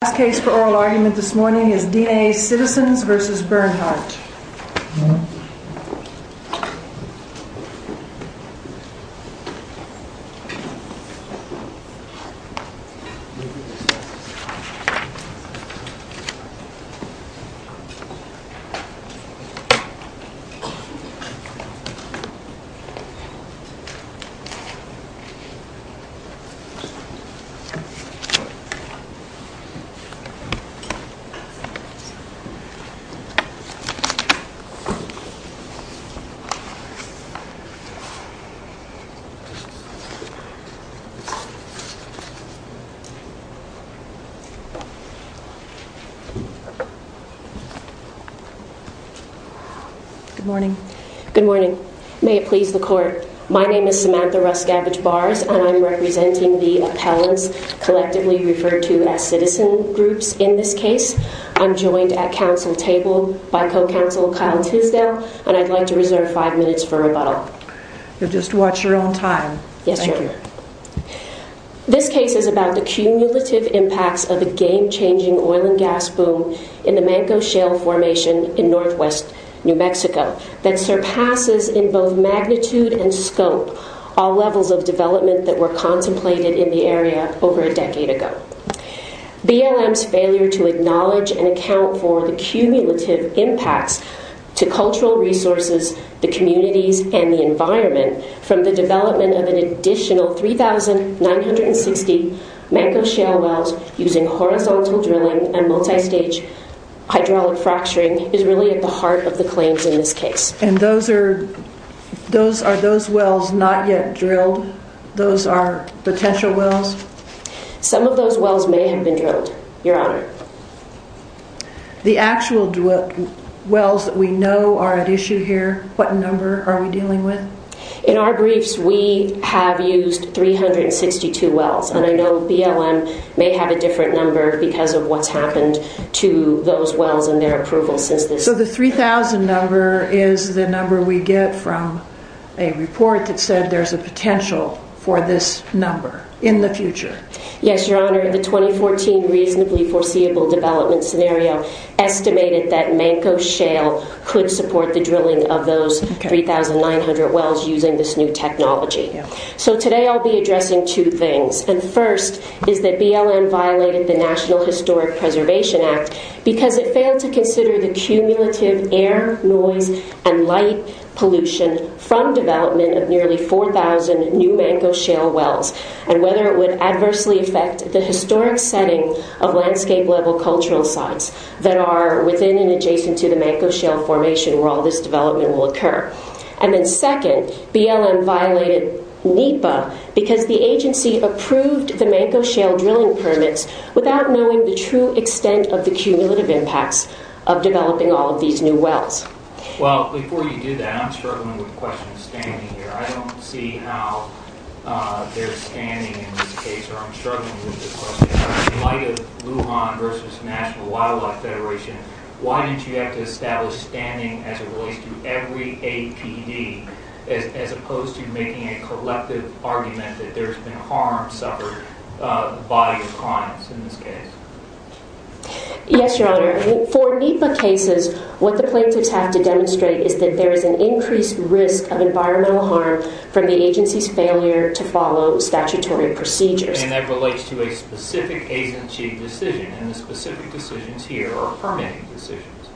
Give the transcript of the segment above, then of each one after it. The last case for oral argument this morning is Dine Citizens v. Bernhardt. Good morning, may it please the court. My name is Samantha Russ Gabbage-Barrs and I'm joined at council table by co-counsel Kyle Tisdale and I'd like to reserve five minutes for rebuttal. You'll just watch your own time. Thank you. This case is about the cumulative impacts of a game-changing oil and gas boom in the Mancos Shale Formation in northwest New Mexico that surpasses in both magnitude and scope all levels of development that were sometimes failure to acknowledge and account for the cumulative impacts to cultural resources, the communities, and the environment from the development of an additional 3,960 Mancos Shale wells using horizontal drilling and multi-stage hydraulic fracturing is really at the heart of the claims in this case. And those are those wells not yet drilled? Those are potential wells? Some of those wells may have been drilled, your honor. The actual wells that we know are at issue here, what number are we dealing with? In our briefs we have used 362 wells and I know BLM may have a different number because of what's happened to those wells and their approval. So the 3,000 number is the number we get from a report that said there's a potential for this number in the future. Yes, your honor. The 2014 reasonably foreseeable development scenario estimated that Mancos Shale could support the drilling of those 3,900 wells using this new technology. So today I'll be addressing two things. And first is that BLM violated the National Historic Preservation Act because it failed to consider the cumulative air, noise, and light pollution from development of nearly 4,000 new Mancos Shale wells and whether it would adversely affect the historic setting of landscape level cultural sites that are within and adjacent to the Mancos Shale formation where all this development will occur. And then second, BLM violated NEPA because the agency approved the Mancos Shale drilling permits without knowing the true extent of the cumulative impacts of developing all of these new wells. Well, before you do that, I'm struggling with the question of standing here. I don't see how there's standing in this case or I'm struggling with the question. In light of Lujan versus National Wildlife Federation, why didn't you have to establish standing as it relates to every APD as opposed to making a collective argument that there's been harm suffered by the clients in this case? Yes, Your Honor. For NEPA cases, what the plaintiffs have to demonstrate is that there is an increased risk of environmental harm from the agency's failure to follow statutory procedures. And that relates to a specific agency decision and the specific decisions here are permitting decisions.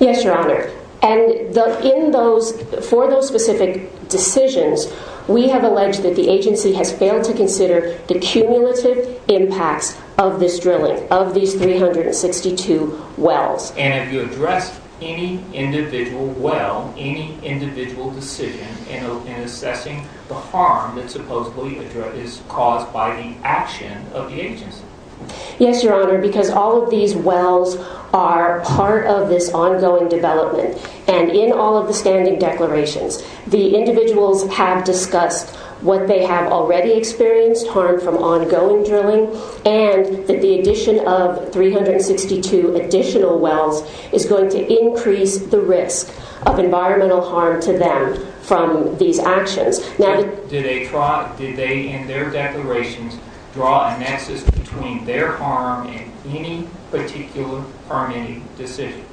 Yes, Your Honor. And for those of you who are not familiar with NEPA, NEPA is the National Wildlife Federation. NEPA is the agency that has to consider the cumulative impacts of this drilling, of these 362 wells. And have you addressed any individual well, any individual decision in assessing the harm that supposedly is caused by the action of the agency? Yes, Your Honor, because all of these wells are part of this ongoing development. And in all of the standing declarations, the agency has stated that there is increased harm from ongoing drilling and that the addition of 362 additional wells is going to increase the risk of environmental harm to them from these actions. Now, did they in their declarations draw a nexus between their harm and any particular permitting decision?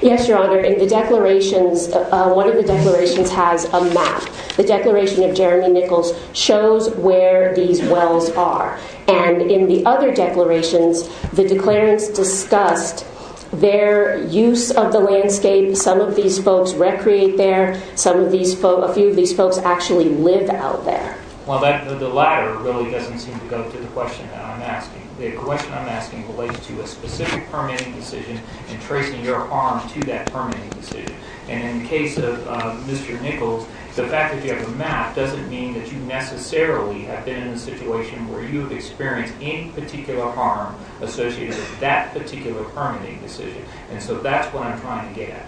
Yes, Your Honor. In the declarations, one of the declarations has a map. The declaration of Jeremy Nichols shows where these wells are. And in the other declarations, the declarants discussed their use of the landscape. Some of these folks recreate there. Some of these folks, a few of these folks actually live out there. Well, the latter really doesn't seem to go to the question that I'm asking. The question I'm asking relates to a specific permitting decision and tracing your harm to that permitting decision. And in the case of Mr. Nichols, the fact that you have a map doesn't mean that you necessarily have been in a situation where you have experienced any particular harm associated with that particular permitting decision. And so that's what I'm trying to get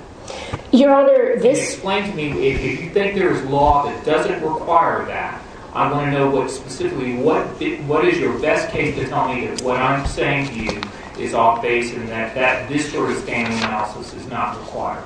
at. Your Honor, this... Explain to me, if you think there is law that doesn't require that, I want to know specifically what is your best case to tell me that what I'm saying to you is off-base and that this sort of standing analysis is not required.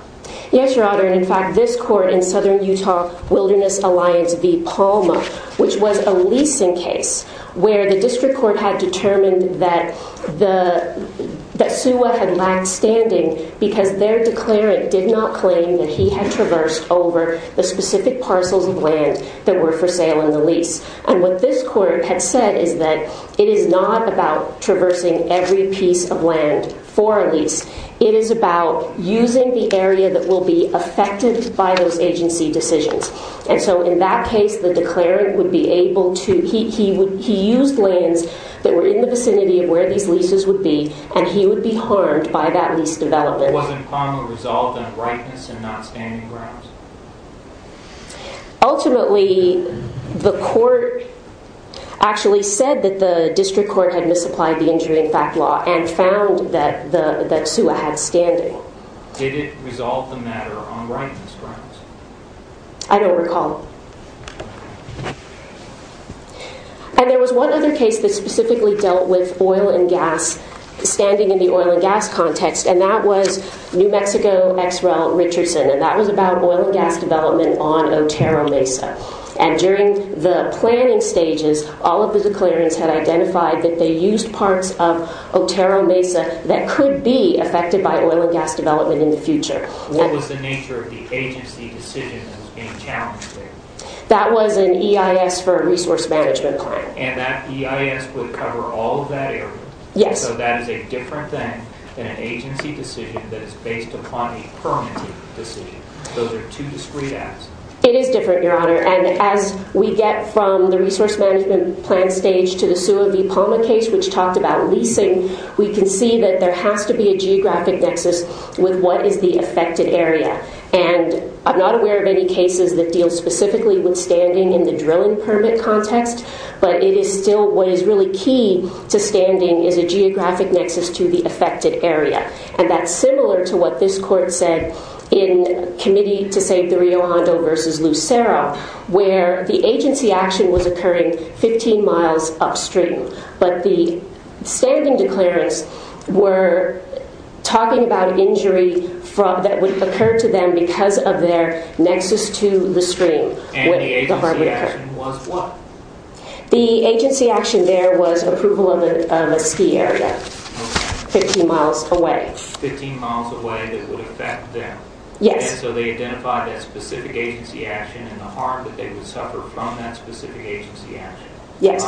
Yes, Your Honor. And in fact, this court in Southern Utah Wilderness Alliance v. Palma, which was a leasing case where the district court had determined that the... That Suwa had lacked standing because their declarant did not claim that he had traversed over the specific parcels of land that were for sale in the lease. And what this court had said is that it is not about traversing every piece of land for a lease. It is about using the area that will be affected by those agency decisions. And so in that case, the declarant would be able to... He used lands that were in the vicinity of where these leases would be and he would be harmed by that lease development. Wasn't Palma resolved on rightness and not standing grounds? Ultimately, the court actually said that the district court had misapplied the injury in fact law and found that Suwa had standing. Did it resolve the matter on rightness grounds? I don't recall. And there was one other case that specifically dealt with oil and gas, standing in the oil and gas context, and that was New Mexico v. Richardson, and that was concerned about oil and gas development on Otero Mesa. And during the planning stages, all of the declarants had identified that they used parts of Otero Mesa that could be affected by oil and gas development in the future. What was the nature of the agency decision that was being challenged there? That was an EIS for a resource management plan. And that EIS would cover all of that area? Yes. So that is a different thing than an agency decision that is based upon a permitting decision. Those are two discrete acts. It is different, Your Honor. And as we get from the resource management plan stage to the Suwa v. Palma case, which talked about leasing, we can see that there has to be a geographic nexus with what is the affected area. And I'm not aware of any cases that deal specifically with standing in the drilling permit context, but it is still what is really key to standing is a geographic nexus to the affected area. And that's similar to what this court said in Committee to Save the Rio Hondo v. Lucero, where the agency action was occurring 15 miles upstream. But the standing declarants were talking about injury that would occur to them because of their nexus to the stream. And the agency action was what? The agency action there was approval of a ski area 15 miles away. 15 miles away that would affect them? Yes. And so they identified that specific agency action and the harm that they would suffer from that specific agency action? Yes.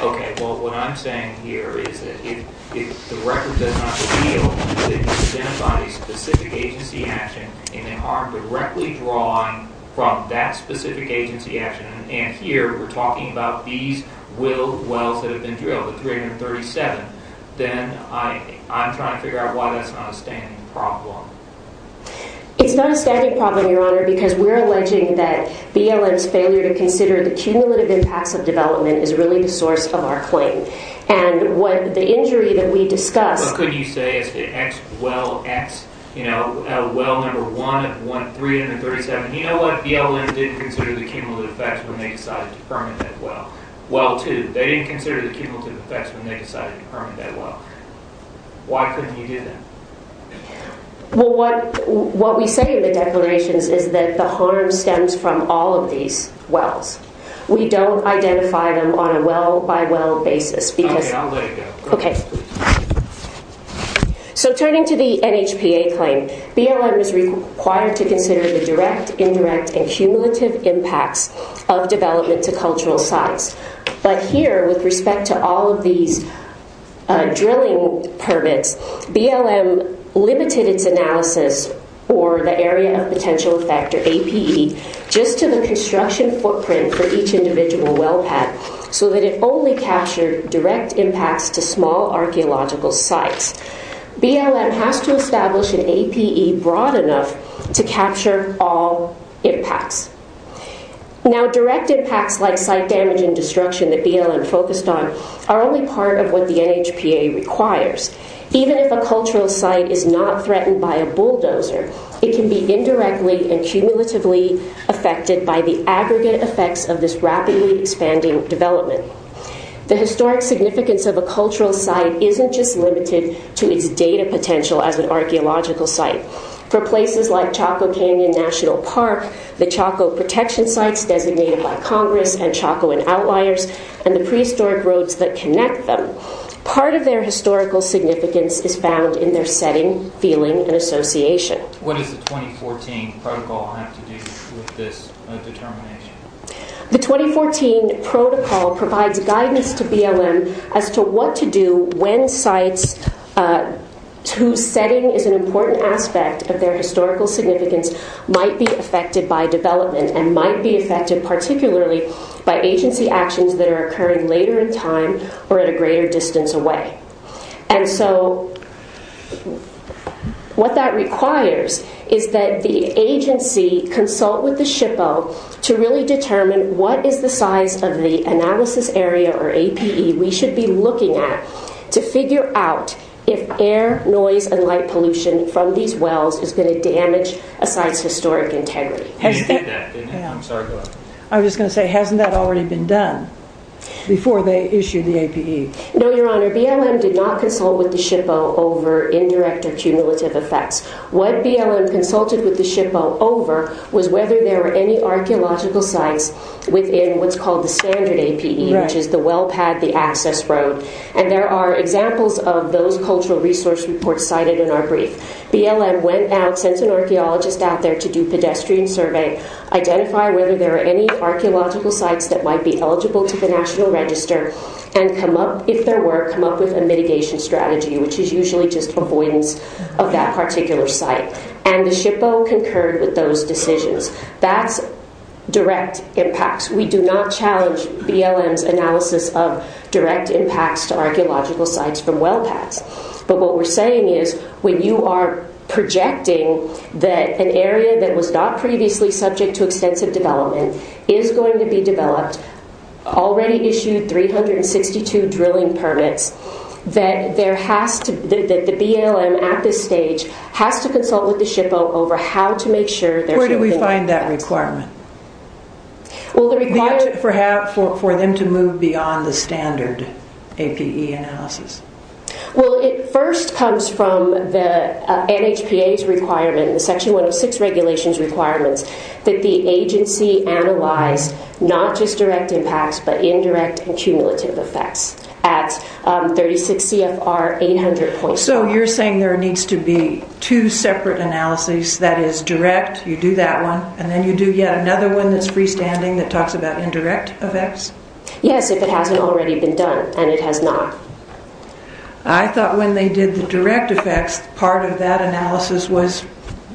Okay. Well, what I'm saying here is that if the record does not reveal that you identified a specific agency action and the harm directly drawn from that specific agency action, and here we're talking about these willed wells that have been drilled, the 337, then I'm trying to figure out why that's not a standing problem. It's not a standing problem, Your Honor, because we're alleging that BLM's failure to consider the cumulative impacts of development is really the source of our claim. And what the injury that we discussed... You know, well number one, 337. You know what? BLM didn't consider the cumulative effects when they decided to permit that well. Well two, they didn't consider the cumulative effects when they decided to permit that well. Why couldn't you do that? Well, what we say in the declarations is that the harm stems from all of these wells. We don't identify them on a well-by-well basis because... Okay, I'll let it go. Okay. So turning to the NHPA claim, BLM is required to consider the direct, indirect, and cumulative impacts of development to cultural sites. But here, with respect to all of these drilling permits, BLM limited its analysis for the area of potential effect, or APE, just to the construction footprint for each individual well path so that it only captured direct impacts to small archaeological sites. BLM has to establish an APE broad enough to capture all impacts. Now direct impacts like site damage and destruction that BLM focused on are only part of what the NHPA requires. Even if a cultural site is not threatened by a bulldozer, it can be indirectly and cumulatively affected by the aggregate effects of this rapidly expanding development. The historic significance of a cultural site isn't just limited to its data potential as an archaeological site. For places like Chaco Canyon National Park, the Chaco Protection Sites designated by Congress and Chaco and Outliers, and the prehistoric roads that connect them, part of their historical significance is found in their setting, feeling, and association. What does the 2014 protocol have to do with this determination? The 2014 protocol provides guidance to BLM as to what to do when sites whose setting is an important aspect of their historical significance might be affected by development and might be affected particularly by agency actions that are occurring later in time or at a greater distance away. And so what that requires is that the agency consult with the SHPO to really determine what is the size of the analysis area or APE we should be looking at to figure out if air, noise, and light pollution from these wells is going to damage a site's historic integrity. I was just going to say, hasn't that already been done before they issued the APE? No, Your Honor. BLM did not consult with the SHPO over indirect or cumulative effects. What BLM consulted with the SHPO over was whether there were any archaeological sites within what's called the standard APE, which is the well pad, the access road. And there are examples of those cultural resource reports cited in our brief. BLM went out, sent an archaeologist out there to do pedestrian survey, and come up, if there were, come up with a mitigation strategy, which is usually just avoidance of that particular site. And the SHPO concurred with those decisions. That's direct impacts. We do not challenge BLM's analysis of direct impacts to archaeological sites from well pads. But what we're saying is when you are projecting that an area that was not previously subject to extensive development is going to be developed, already issued 362 drilling permits, that there has to, that the BLM at this stage has to consult with the SHPO over how to make sure there's no indirect impacts. Where do we find that requirement? Well, the requirement... For them to move beyond the standard APE analysis. Well, it first comes from the NHPA's requirement, the Section 106 regulations requirements, that the agency analyze not just direct impacts, but indirect and cumulative effects. At 36 CFR 800.4. So you're saying there needs to be two separate analyses, that is direct, you do that one, and then you do yet another one that's freestanding that talks about indirect effects? Yes, if it hasn't already been done, and it has not. I thought when they did the direct effects, part of that analysis was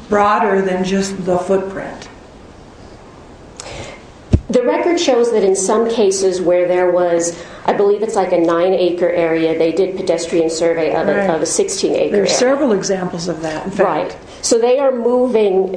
broader than just the footprint. The record shows that in some cases where there was, I believe it's like a nine acre area, they did pedestrian survey of a 16 acre area. There are several examples of that. Right. So they are moving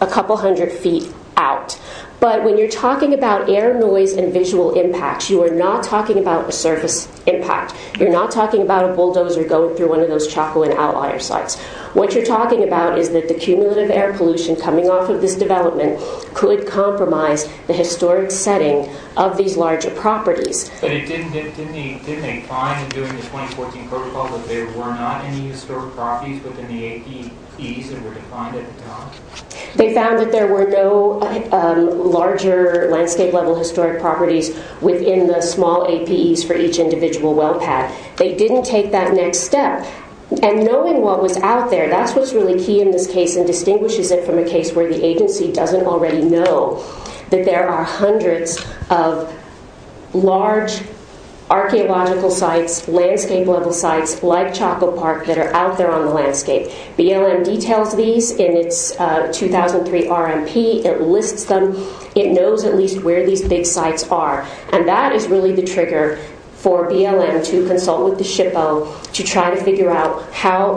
a couple hundred feet out. But when you're talking about air noise and visual impacts, you are not talking about a surface impact. You're not talking about a bulldozer going through one of those chaco and outlier sites. What you're talking about is that the cumulative air pollution coming off of this development could compromise the historic setting of these larger properties. Didn't they find in doing the 2014 protocol that there were not any historic properties within the APEs that were defined at the time? They found that there were no larger landscape level historic properties within the small APEs for each individual well pad. They didn't take that next step. And knowing what was out there, that's what's really key in this case and distinguishes it from a case where the agency doesn't already know that there are hundreds of large archaeological sites, landscape level sites like Chaco Park that are out there on the landscape. BLM details these in its 2003 RMP. It lists them. It knows at least where these big sites are. And that is really the trigger for BLM to consult with the SHPO to try to figure out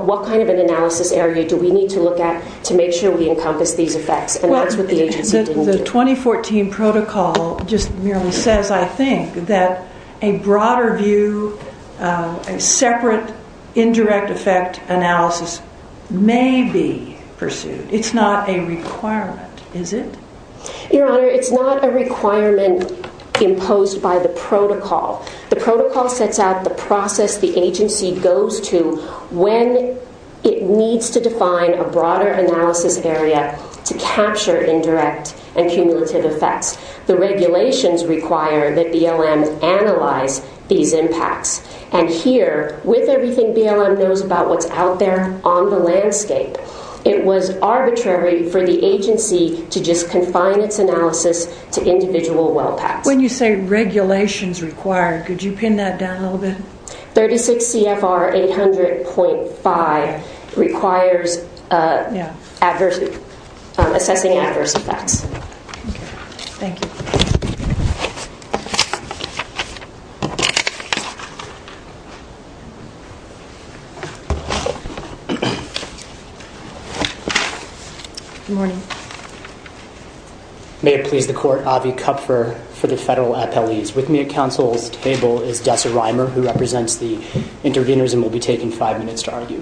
what kind of an analysis area do we need to look at to make sure we encompass these effects. And that's what the agency did. The 2014 protocol just merely says, I think, that a broader view, a separate indirect effect analysis may be pursued. It's not a requirement, is it? Your Honor, it's not a requirement imposed by the protocol. The protocol sets out the process the agency goes to when it needs to define a broader analysis area to capture indirect and cumulative effects. The regulations require that BLM analyze these impacts. And here, with everything BLM knows about what's out there on the landscape, it was arbitrary for the agency to just confine its analysis to individual well packs. When you say regulations require, could you pin that down a little bit? 36 CFR 800.5 requires assessing adverse effects. Thank you. Good morning. May it please the Court, Avi Kupfer for the federal appellees. With me at counsel's table is Dessa Reimer, who represents the intervenors, and will be taking five minutes to argue.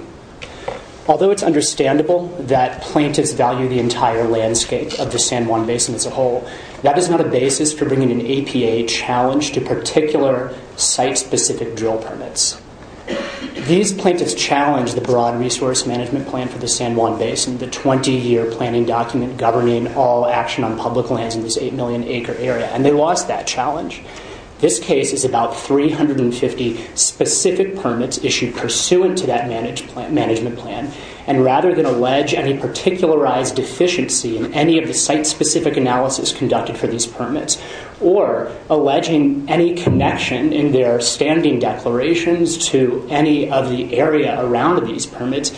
Although it's understandable that plaintiffs value the entire landscape of the San Juan Basin as a whole, that is not a basis for bringing an APA challenge to particular site-specific drill permits. These plaintiffs challenged the broad resource management plan for the San Juan Basin, the 20-year planning document governing all action on public lands in this 8 million acre area, and they lost that challenge. This case is about 350 specific permits issued pursuant to that management plan, and rather than allege any particularized deficiency in any of the site-specific analysis conducted for these permits, or alleging any connection in their standing declarations to any of the area around these permits,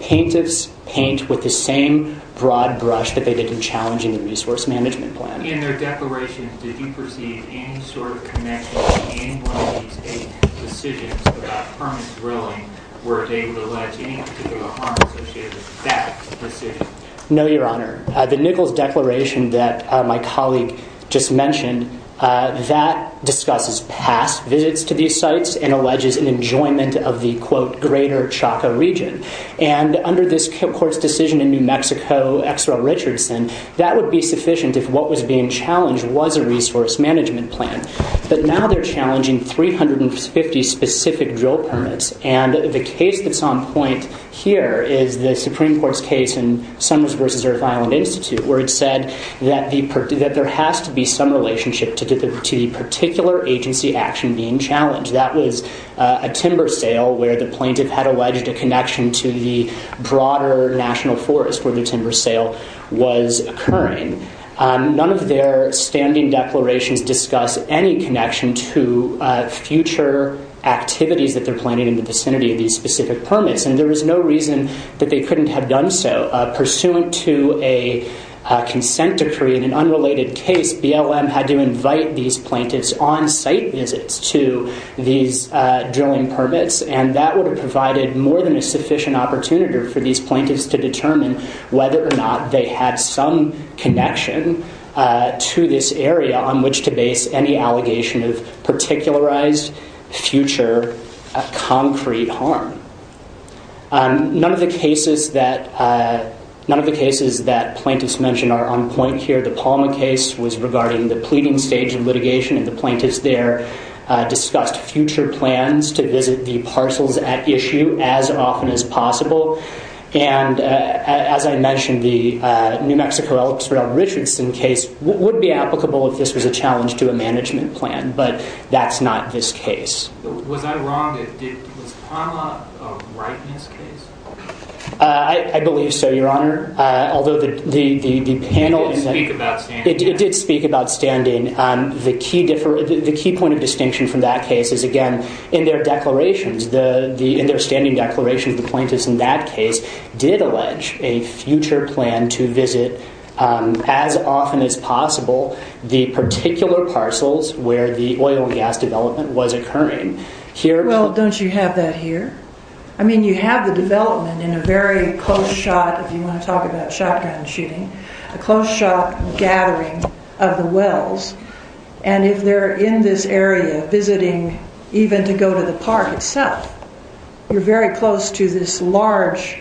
plaintiffs paint with the same broad brush that they did in challenging the resource management plan. In their declarations, did you perceive any sort of connection in one of these eight decisions about permit drilling where they would allege any particular harm associated with that decision? No, Your Honor. The Nichols Declaration that my colleague just mentioned, that discusses past visits to these sites and alleges an enjoyment of the, quote, greater Chaco region. And under this court's decision in New Mexico, X. Roe Richardson, that would be sufficient if what was being challenged was a resource management plan. But now they're challenging 350 specific drill permits, and the case that's on point here is the Supreme Court's case in Summers v. Earth Island Institute, where it said that there has to be some relationship to the particular agency action being challenged. That was a timber sale where the plaintiff had alleged a connection to the broader national forest where the timber sale was occurring. None of their standing declarations discuss any connection to future activities that they're planning in the vicinity of these specific permits, and there was no reason that they couldn't have done so. Pursuant to a consent decree in an unrelated case, BLM had to invite these plaintiffs on site visits to these drilling permits, and that would have provided more than a sufficient opportunitor for these plaintiffs to determine whether or not they had some connection to this area on which to base any allegation of particularized future concrete harm. None of the cases that plaintiffs mentioned are on point here. The Palma case was regarding the pleading stage of litigation, and the plaintiffs there discussed future plans to visit the parcels at issue as often as possible. As I mentioned, the New Mexico Elks Rail Richardson case would be applicable if this was a challenge to a management plan, but that's not this case. Was I wrong? Was Palma a rightness case? I believe so, Your Honor. It did speak about standing. It did speak about standing. The key point of distinction from that case is, again, in their declarations, in their standing declarations, the plaintiffs in that case did allege a future plan to visit as often as possible the particular parcels where the oil and gas development was occurring. Well, don't you have that here? I mean, you have the development in a very close shot, if you want to talk about shotgun shooting, a close shot gathering of the wells, and if they're in this area visiting even to go to the parc itself, you're very close to this large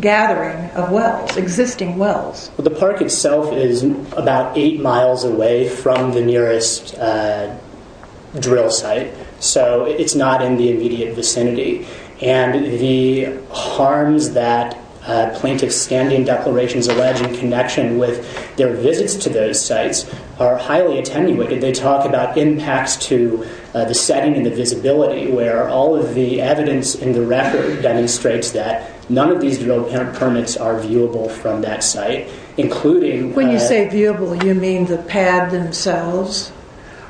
gathering of wells, existing wells. The parc itself is about eight miles away from the nearest drill site, so it's not in the immediate vicinity, and the harms that plaintiffs' standing declarations allege in connection with their visits to those sites are highly attenuated. They talk about impacts to the setting and the visibility where all of the evidence in the record demonstrates that none of these drill permits are viewable from that site, including... When you say viewable, you mean the pad themselves,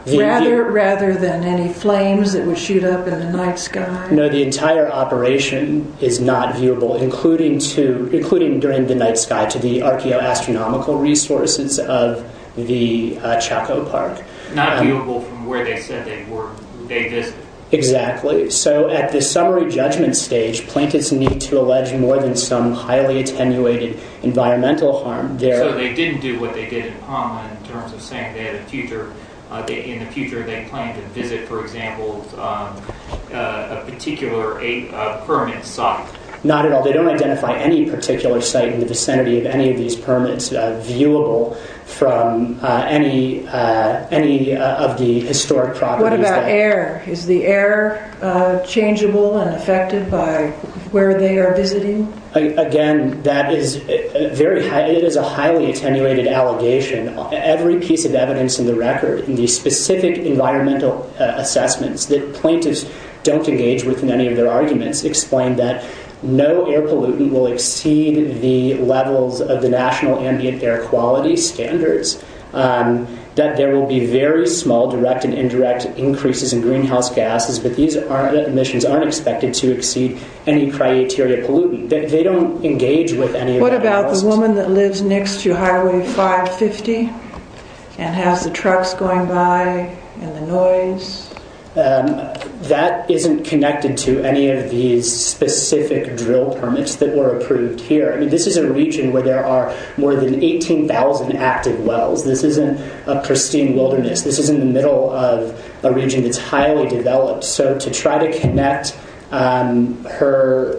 rather than any flames that would shoot up in the night sky? No, the entire operation is not viewable, including during the night sky, to the archaeoastronomical resources of the Chaco parc. Not viewable from where they said they visited. Exactly. So at the summary judgment stage, plaintiffs need to allege more than some highly attenuated environmental harm. So they didn't do what they did in Poma in terms of saying they had a future, in the future they plan to visit, for example, a particular permit site. Not at all. They don't identify any particular site in the vicinity of any of these permits viewable from any of the historic properties. What about air? Is the air changeable and affected by where they are visiting? Again, that is a highly attenuated allegation. Every piece of evidence in the record, the specific environmental assessments that plaintiffs don't engage with in any of their arguments explain that no air pollutant will exceed the levels of the National Ambient Air Quality Standards, that there will be very small direct and indirect increases in greenhouse gases, but these emissions aren't expected to exceed any criteria pollutant. They don't engage with any of that. What about the woman that lives next to Highway 550 and has the trucks going by and the noise? That isn't connected to any of these specific drill permits that were approved here. This is a region where there are more than 18,000 active wells. This isn't a pristine wilderness. This is in the middle of a region that's highly developed, so to try to connect her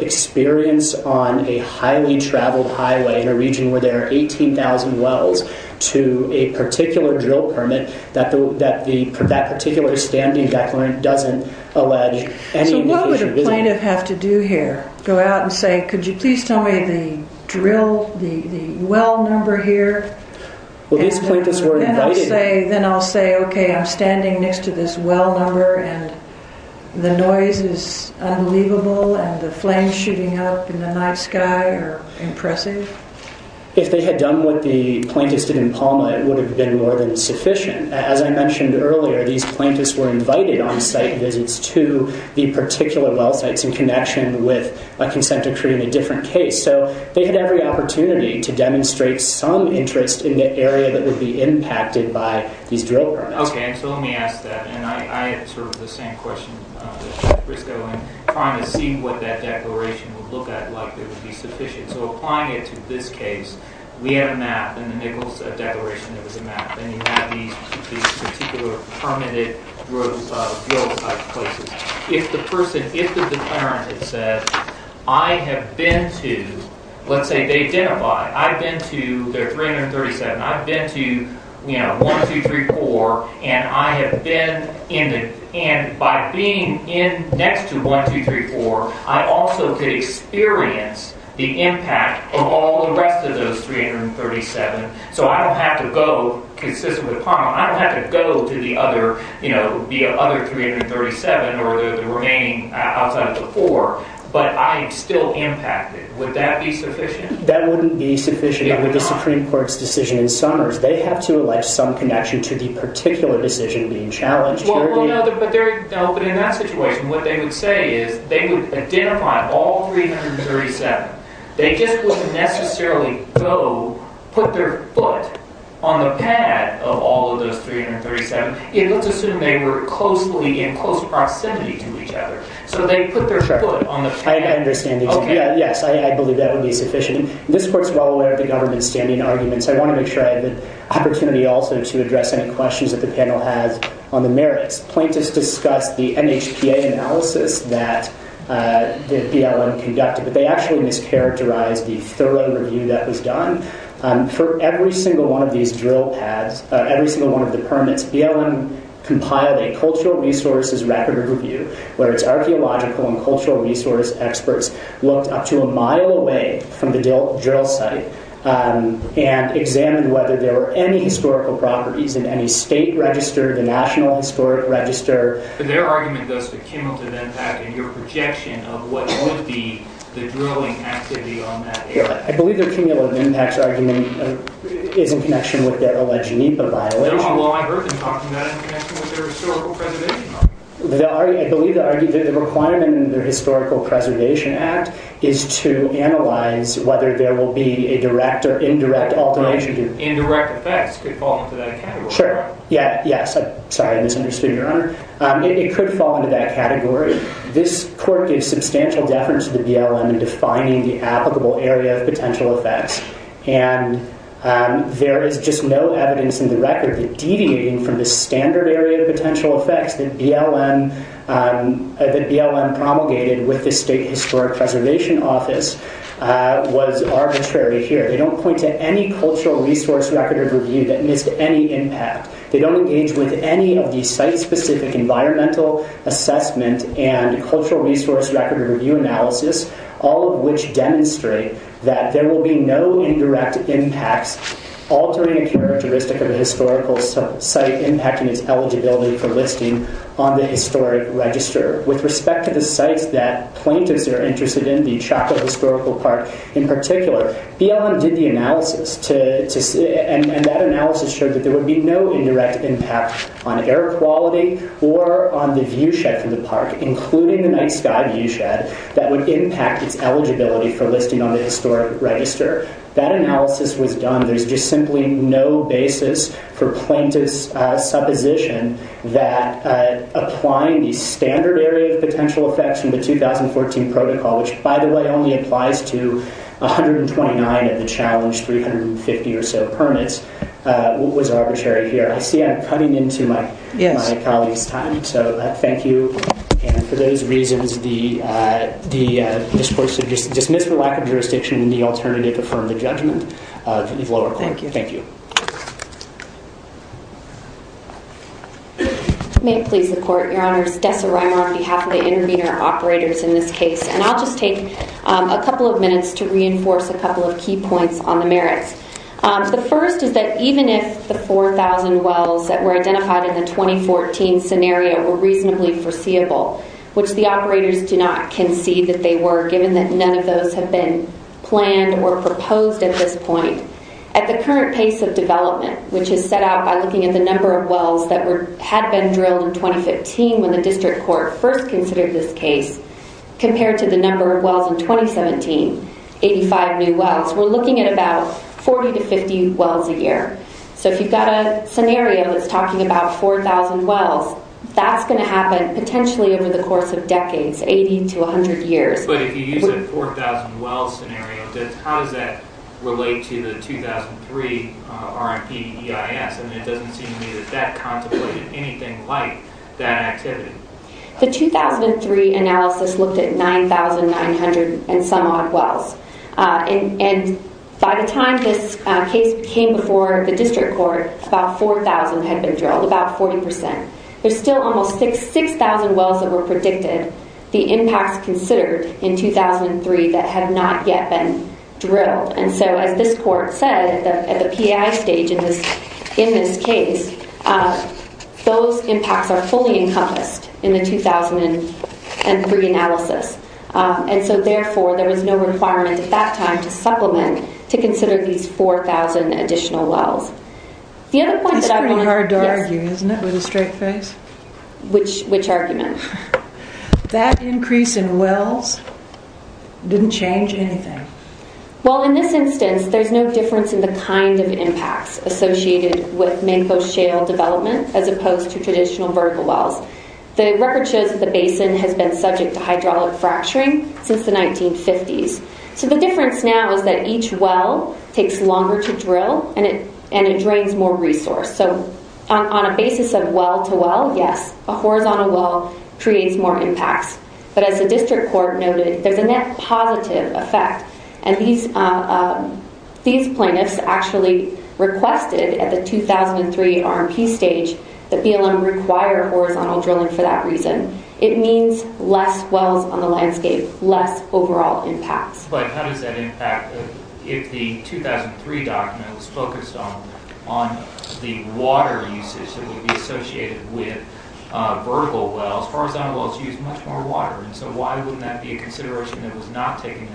experience on a highly traveled highway, in a region where there are 18,000 wells, to a particular drill permit, that particular standing declarant doesn't allege any indication of visiting. So what would a plaintiff have to do here? Go out and say, could you please tell me the drill, the well number here? Well, these plaintiffs were invited. Then I'll say, okay, I'm standing next to this well number, and the noise is unbelievable, and the flames shooting up in the night sky are impressive? If they had done what the plaintiffs did in Palma, it would have been more than sufficient. As I mentioned earlier, these plaintiffs were invited on site visits to the particular well sites in connection with a consent decree in a different case. So they had every opportunity to demonstrate some interest in the area that would be impacted by these drill permits. Okay, so let me ask that. I had sort of the same question as Briscoe in trying to see what that declaration would look like that would be sufficient. So applying it to this case, we have a map in the Nichols Declaration that was a map, and you have these particular permitted drill site places. If the person, if the declarant had said, I have been to, let's say they identify, I've been to, they're 337, I've been to, you know, 1234, and I have been in the, and by being in next to 1234, I also could experience the impact of all the rest of those 337. So I don't have to go, consistent with Palma, I don't have to go to the other, you know, the other 337 or the remaining outside of the four, but I am still impacted. Would that be sufficient? That wouldn't be sufficient. It would not. With the Supreme Court's decision in Summers, they have to allege some connection to the particular decision being challenged. Well, no, but in that situation, what they would say is they would identify all 337. They just wouldn't necessarily go, put their foot on the pad of all of those 337. It looks as if they were closely, in close proximity to each other. So they put their foot on the pad. I understand. Yes, I believe that would be sufficient. This Court's well aware of the government's standing arguments. I want to make sure I have the opportunity also to address any questions that the panel has on the merits. Plaintiffs discussed the NHPA analysis that BLM conducted, but they actually mischaracterized the thorough review that was done. For every single one of these drill pads, every single one of the permits, BLM compiled a cultural resources record review, where its archaeological and cultural resource experts looked up to a mile away from the drill site and examined whether there were any historical properties in any state register, the national historic register. But their argument goes to Kimmel to then have a new projection of what would be the drilling activity on that area. I believe that Kimmel and NHPAC's argument is in connection with the alleged NEPA violation. Well, I've heard them talking about it in connection with their historical preservation act. I believe the requirement in their historical preservation act is to analyze whether there will be a direct or indirect alteration. Indirect effects could fall into that category. Sure. Yes. Sorry, I misunderstood, Your Honor. It could fall into that category. This court gave substantial deference to the BLM in defining the applicable area of potential effects. And there is just no evidence in the record that deviating from the standard area of potential effects that BLM promulgated with the State Historic Preservation Office was arbitrary here. They don't point to any cultural resource record of review that missed any impact. They don't engage with any of the site-specific environmental assessment and cultural resource record of review analysis, all of which demonstrate that there will be no indirect impacts altering a characteristic of a historical site impacting its eligibility for listing on the historic register. With respect to the sites that plaintiffs are interested in, the Chaco Historical Park in particular, BLM did the analysis, and that analysis showed that there would be no indirect impact on air quality or on the viewshed from the park, including the night sky viewshed, that would impact its eligibility for listing on the historic register. That analysis was done. There's just simply no basis for plaintiff's supposition that applying the standard area of potential effects from the 2014 protocol, which, by the way, only applies to 129 of the challenged 350 or so permits, was arbitrary here. I see I'm cutting into my colleague's time. So thank you. And for those reasons, the discourse is dismissed for lack of jurisdiction and the alternative to firm the judgment is lower court. Thank you. May it please the court. Your Honor, it's Dessa Reimer on behalf of the intervener operators in this case, and I'll just take a couple of minutes to reinforce a couple of key points on the merits. The first is that even if the 4,000 wells that were identified in the 2014 scenario were reasonably foreseeable, which the operators do not concede that they were given that none of those have been planned or proposed at this point, at the current pace of development, which is set out by looking at the number of wells that had been drilled in 2015 when the district court first considered this case, compared to the number of wells in 2017, 85 new wells, we're looking at about 40 to 50 wells a year. So if you've got a scenario that's talking about 4,000 wells, that's going to happen potentially over the course of decades, 80 to 100 years. But if you use a 4,000 wells scenario, how does that relate to the 2003 RMP EIS? And it doesn't seem to me that that contemplated anything like that activity. The 2003 analysis looked at 9,900 and some odd wells. And by the time this case came before the district court, about 4,000 had been drilled, about 40%. There's still almost 6,000 wells that were predicted. The impacts considered in 2003 that have not yet been drilled. And so as this court said at the PI stage in this case, those impacts are fully encompassed in the 2003 analysis. And so therefore there was no requirement at that time to supplement to consider these 4,000 additional wells. It's pretty hard to argue, isn't it, with a straight face? Which argument? That increase in wells didn't change anything. Well, in this instance, there's no difference in the kind of impacts associated with mangrove shale development as opposed to traditional vertical wells. The record shows that the basin has been subject to hydraulic fracturing since the 1950s. So the difference now is that each well takes longer to drill and it drains more resource. So on a basis of well-to-well, yes, a horizontal well creates more impacts. But as the district court noted, there's a net positive effect. And these plaintiffs actually requested at the 2003 RMP stage that BLM require horizontal drilling for that reason. It means less wells on the landscape, less overall impacts. But how does that impact if the 2003 document was focused on the water usage that would be associated with vertical wells? Horizontal wells use much more water. So why wouldn't that be a consideration that was not taken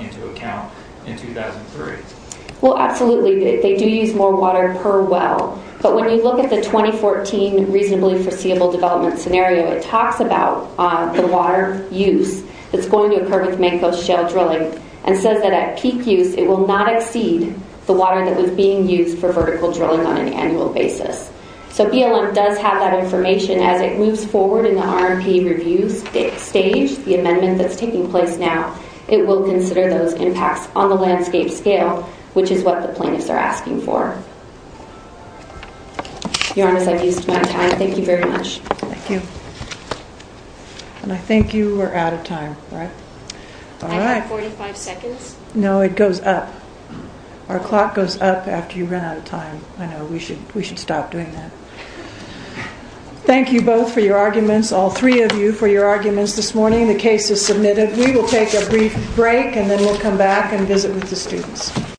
into account in 2003? Well, absolutely, they do use more water per well. But when you look at the 2014 reasonably foreseeable development scenario, it talks about the water use that's going to occur with mangrove shale drilling and says that at peak use, it will not exceed the water that was being used for vertical drilling on an annual basis. So BLM does have that information. As it moves forward in the RMP review stage, the amendment that's taking place now, it will consider those impacts on the landscape scale, which is what the plaintiffs are asking for. Your Honor, as I've used my time, thank you very much. Thank you. And I think you are out of time, right? I have 45 seconds. No, it goes up. Our clock goes up after you run out of time. I know, we should stop doing that. Thank you both for your arguments, all three of you for your arguments this morning. The case is submitted. We will take a brief break and then we'll come back and visit with the students.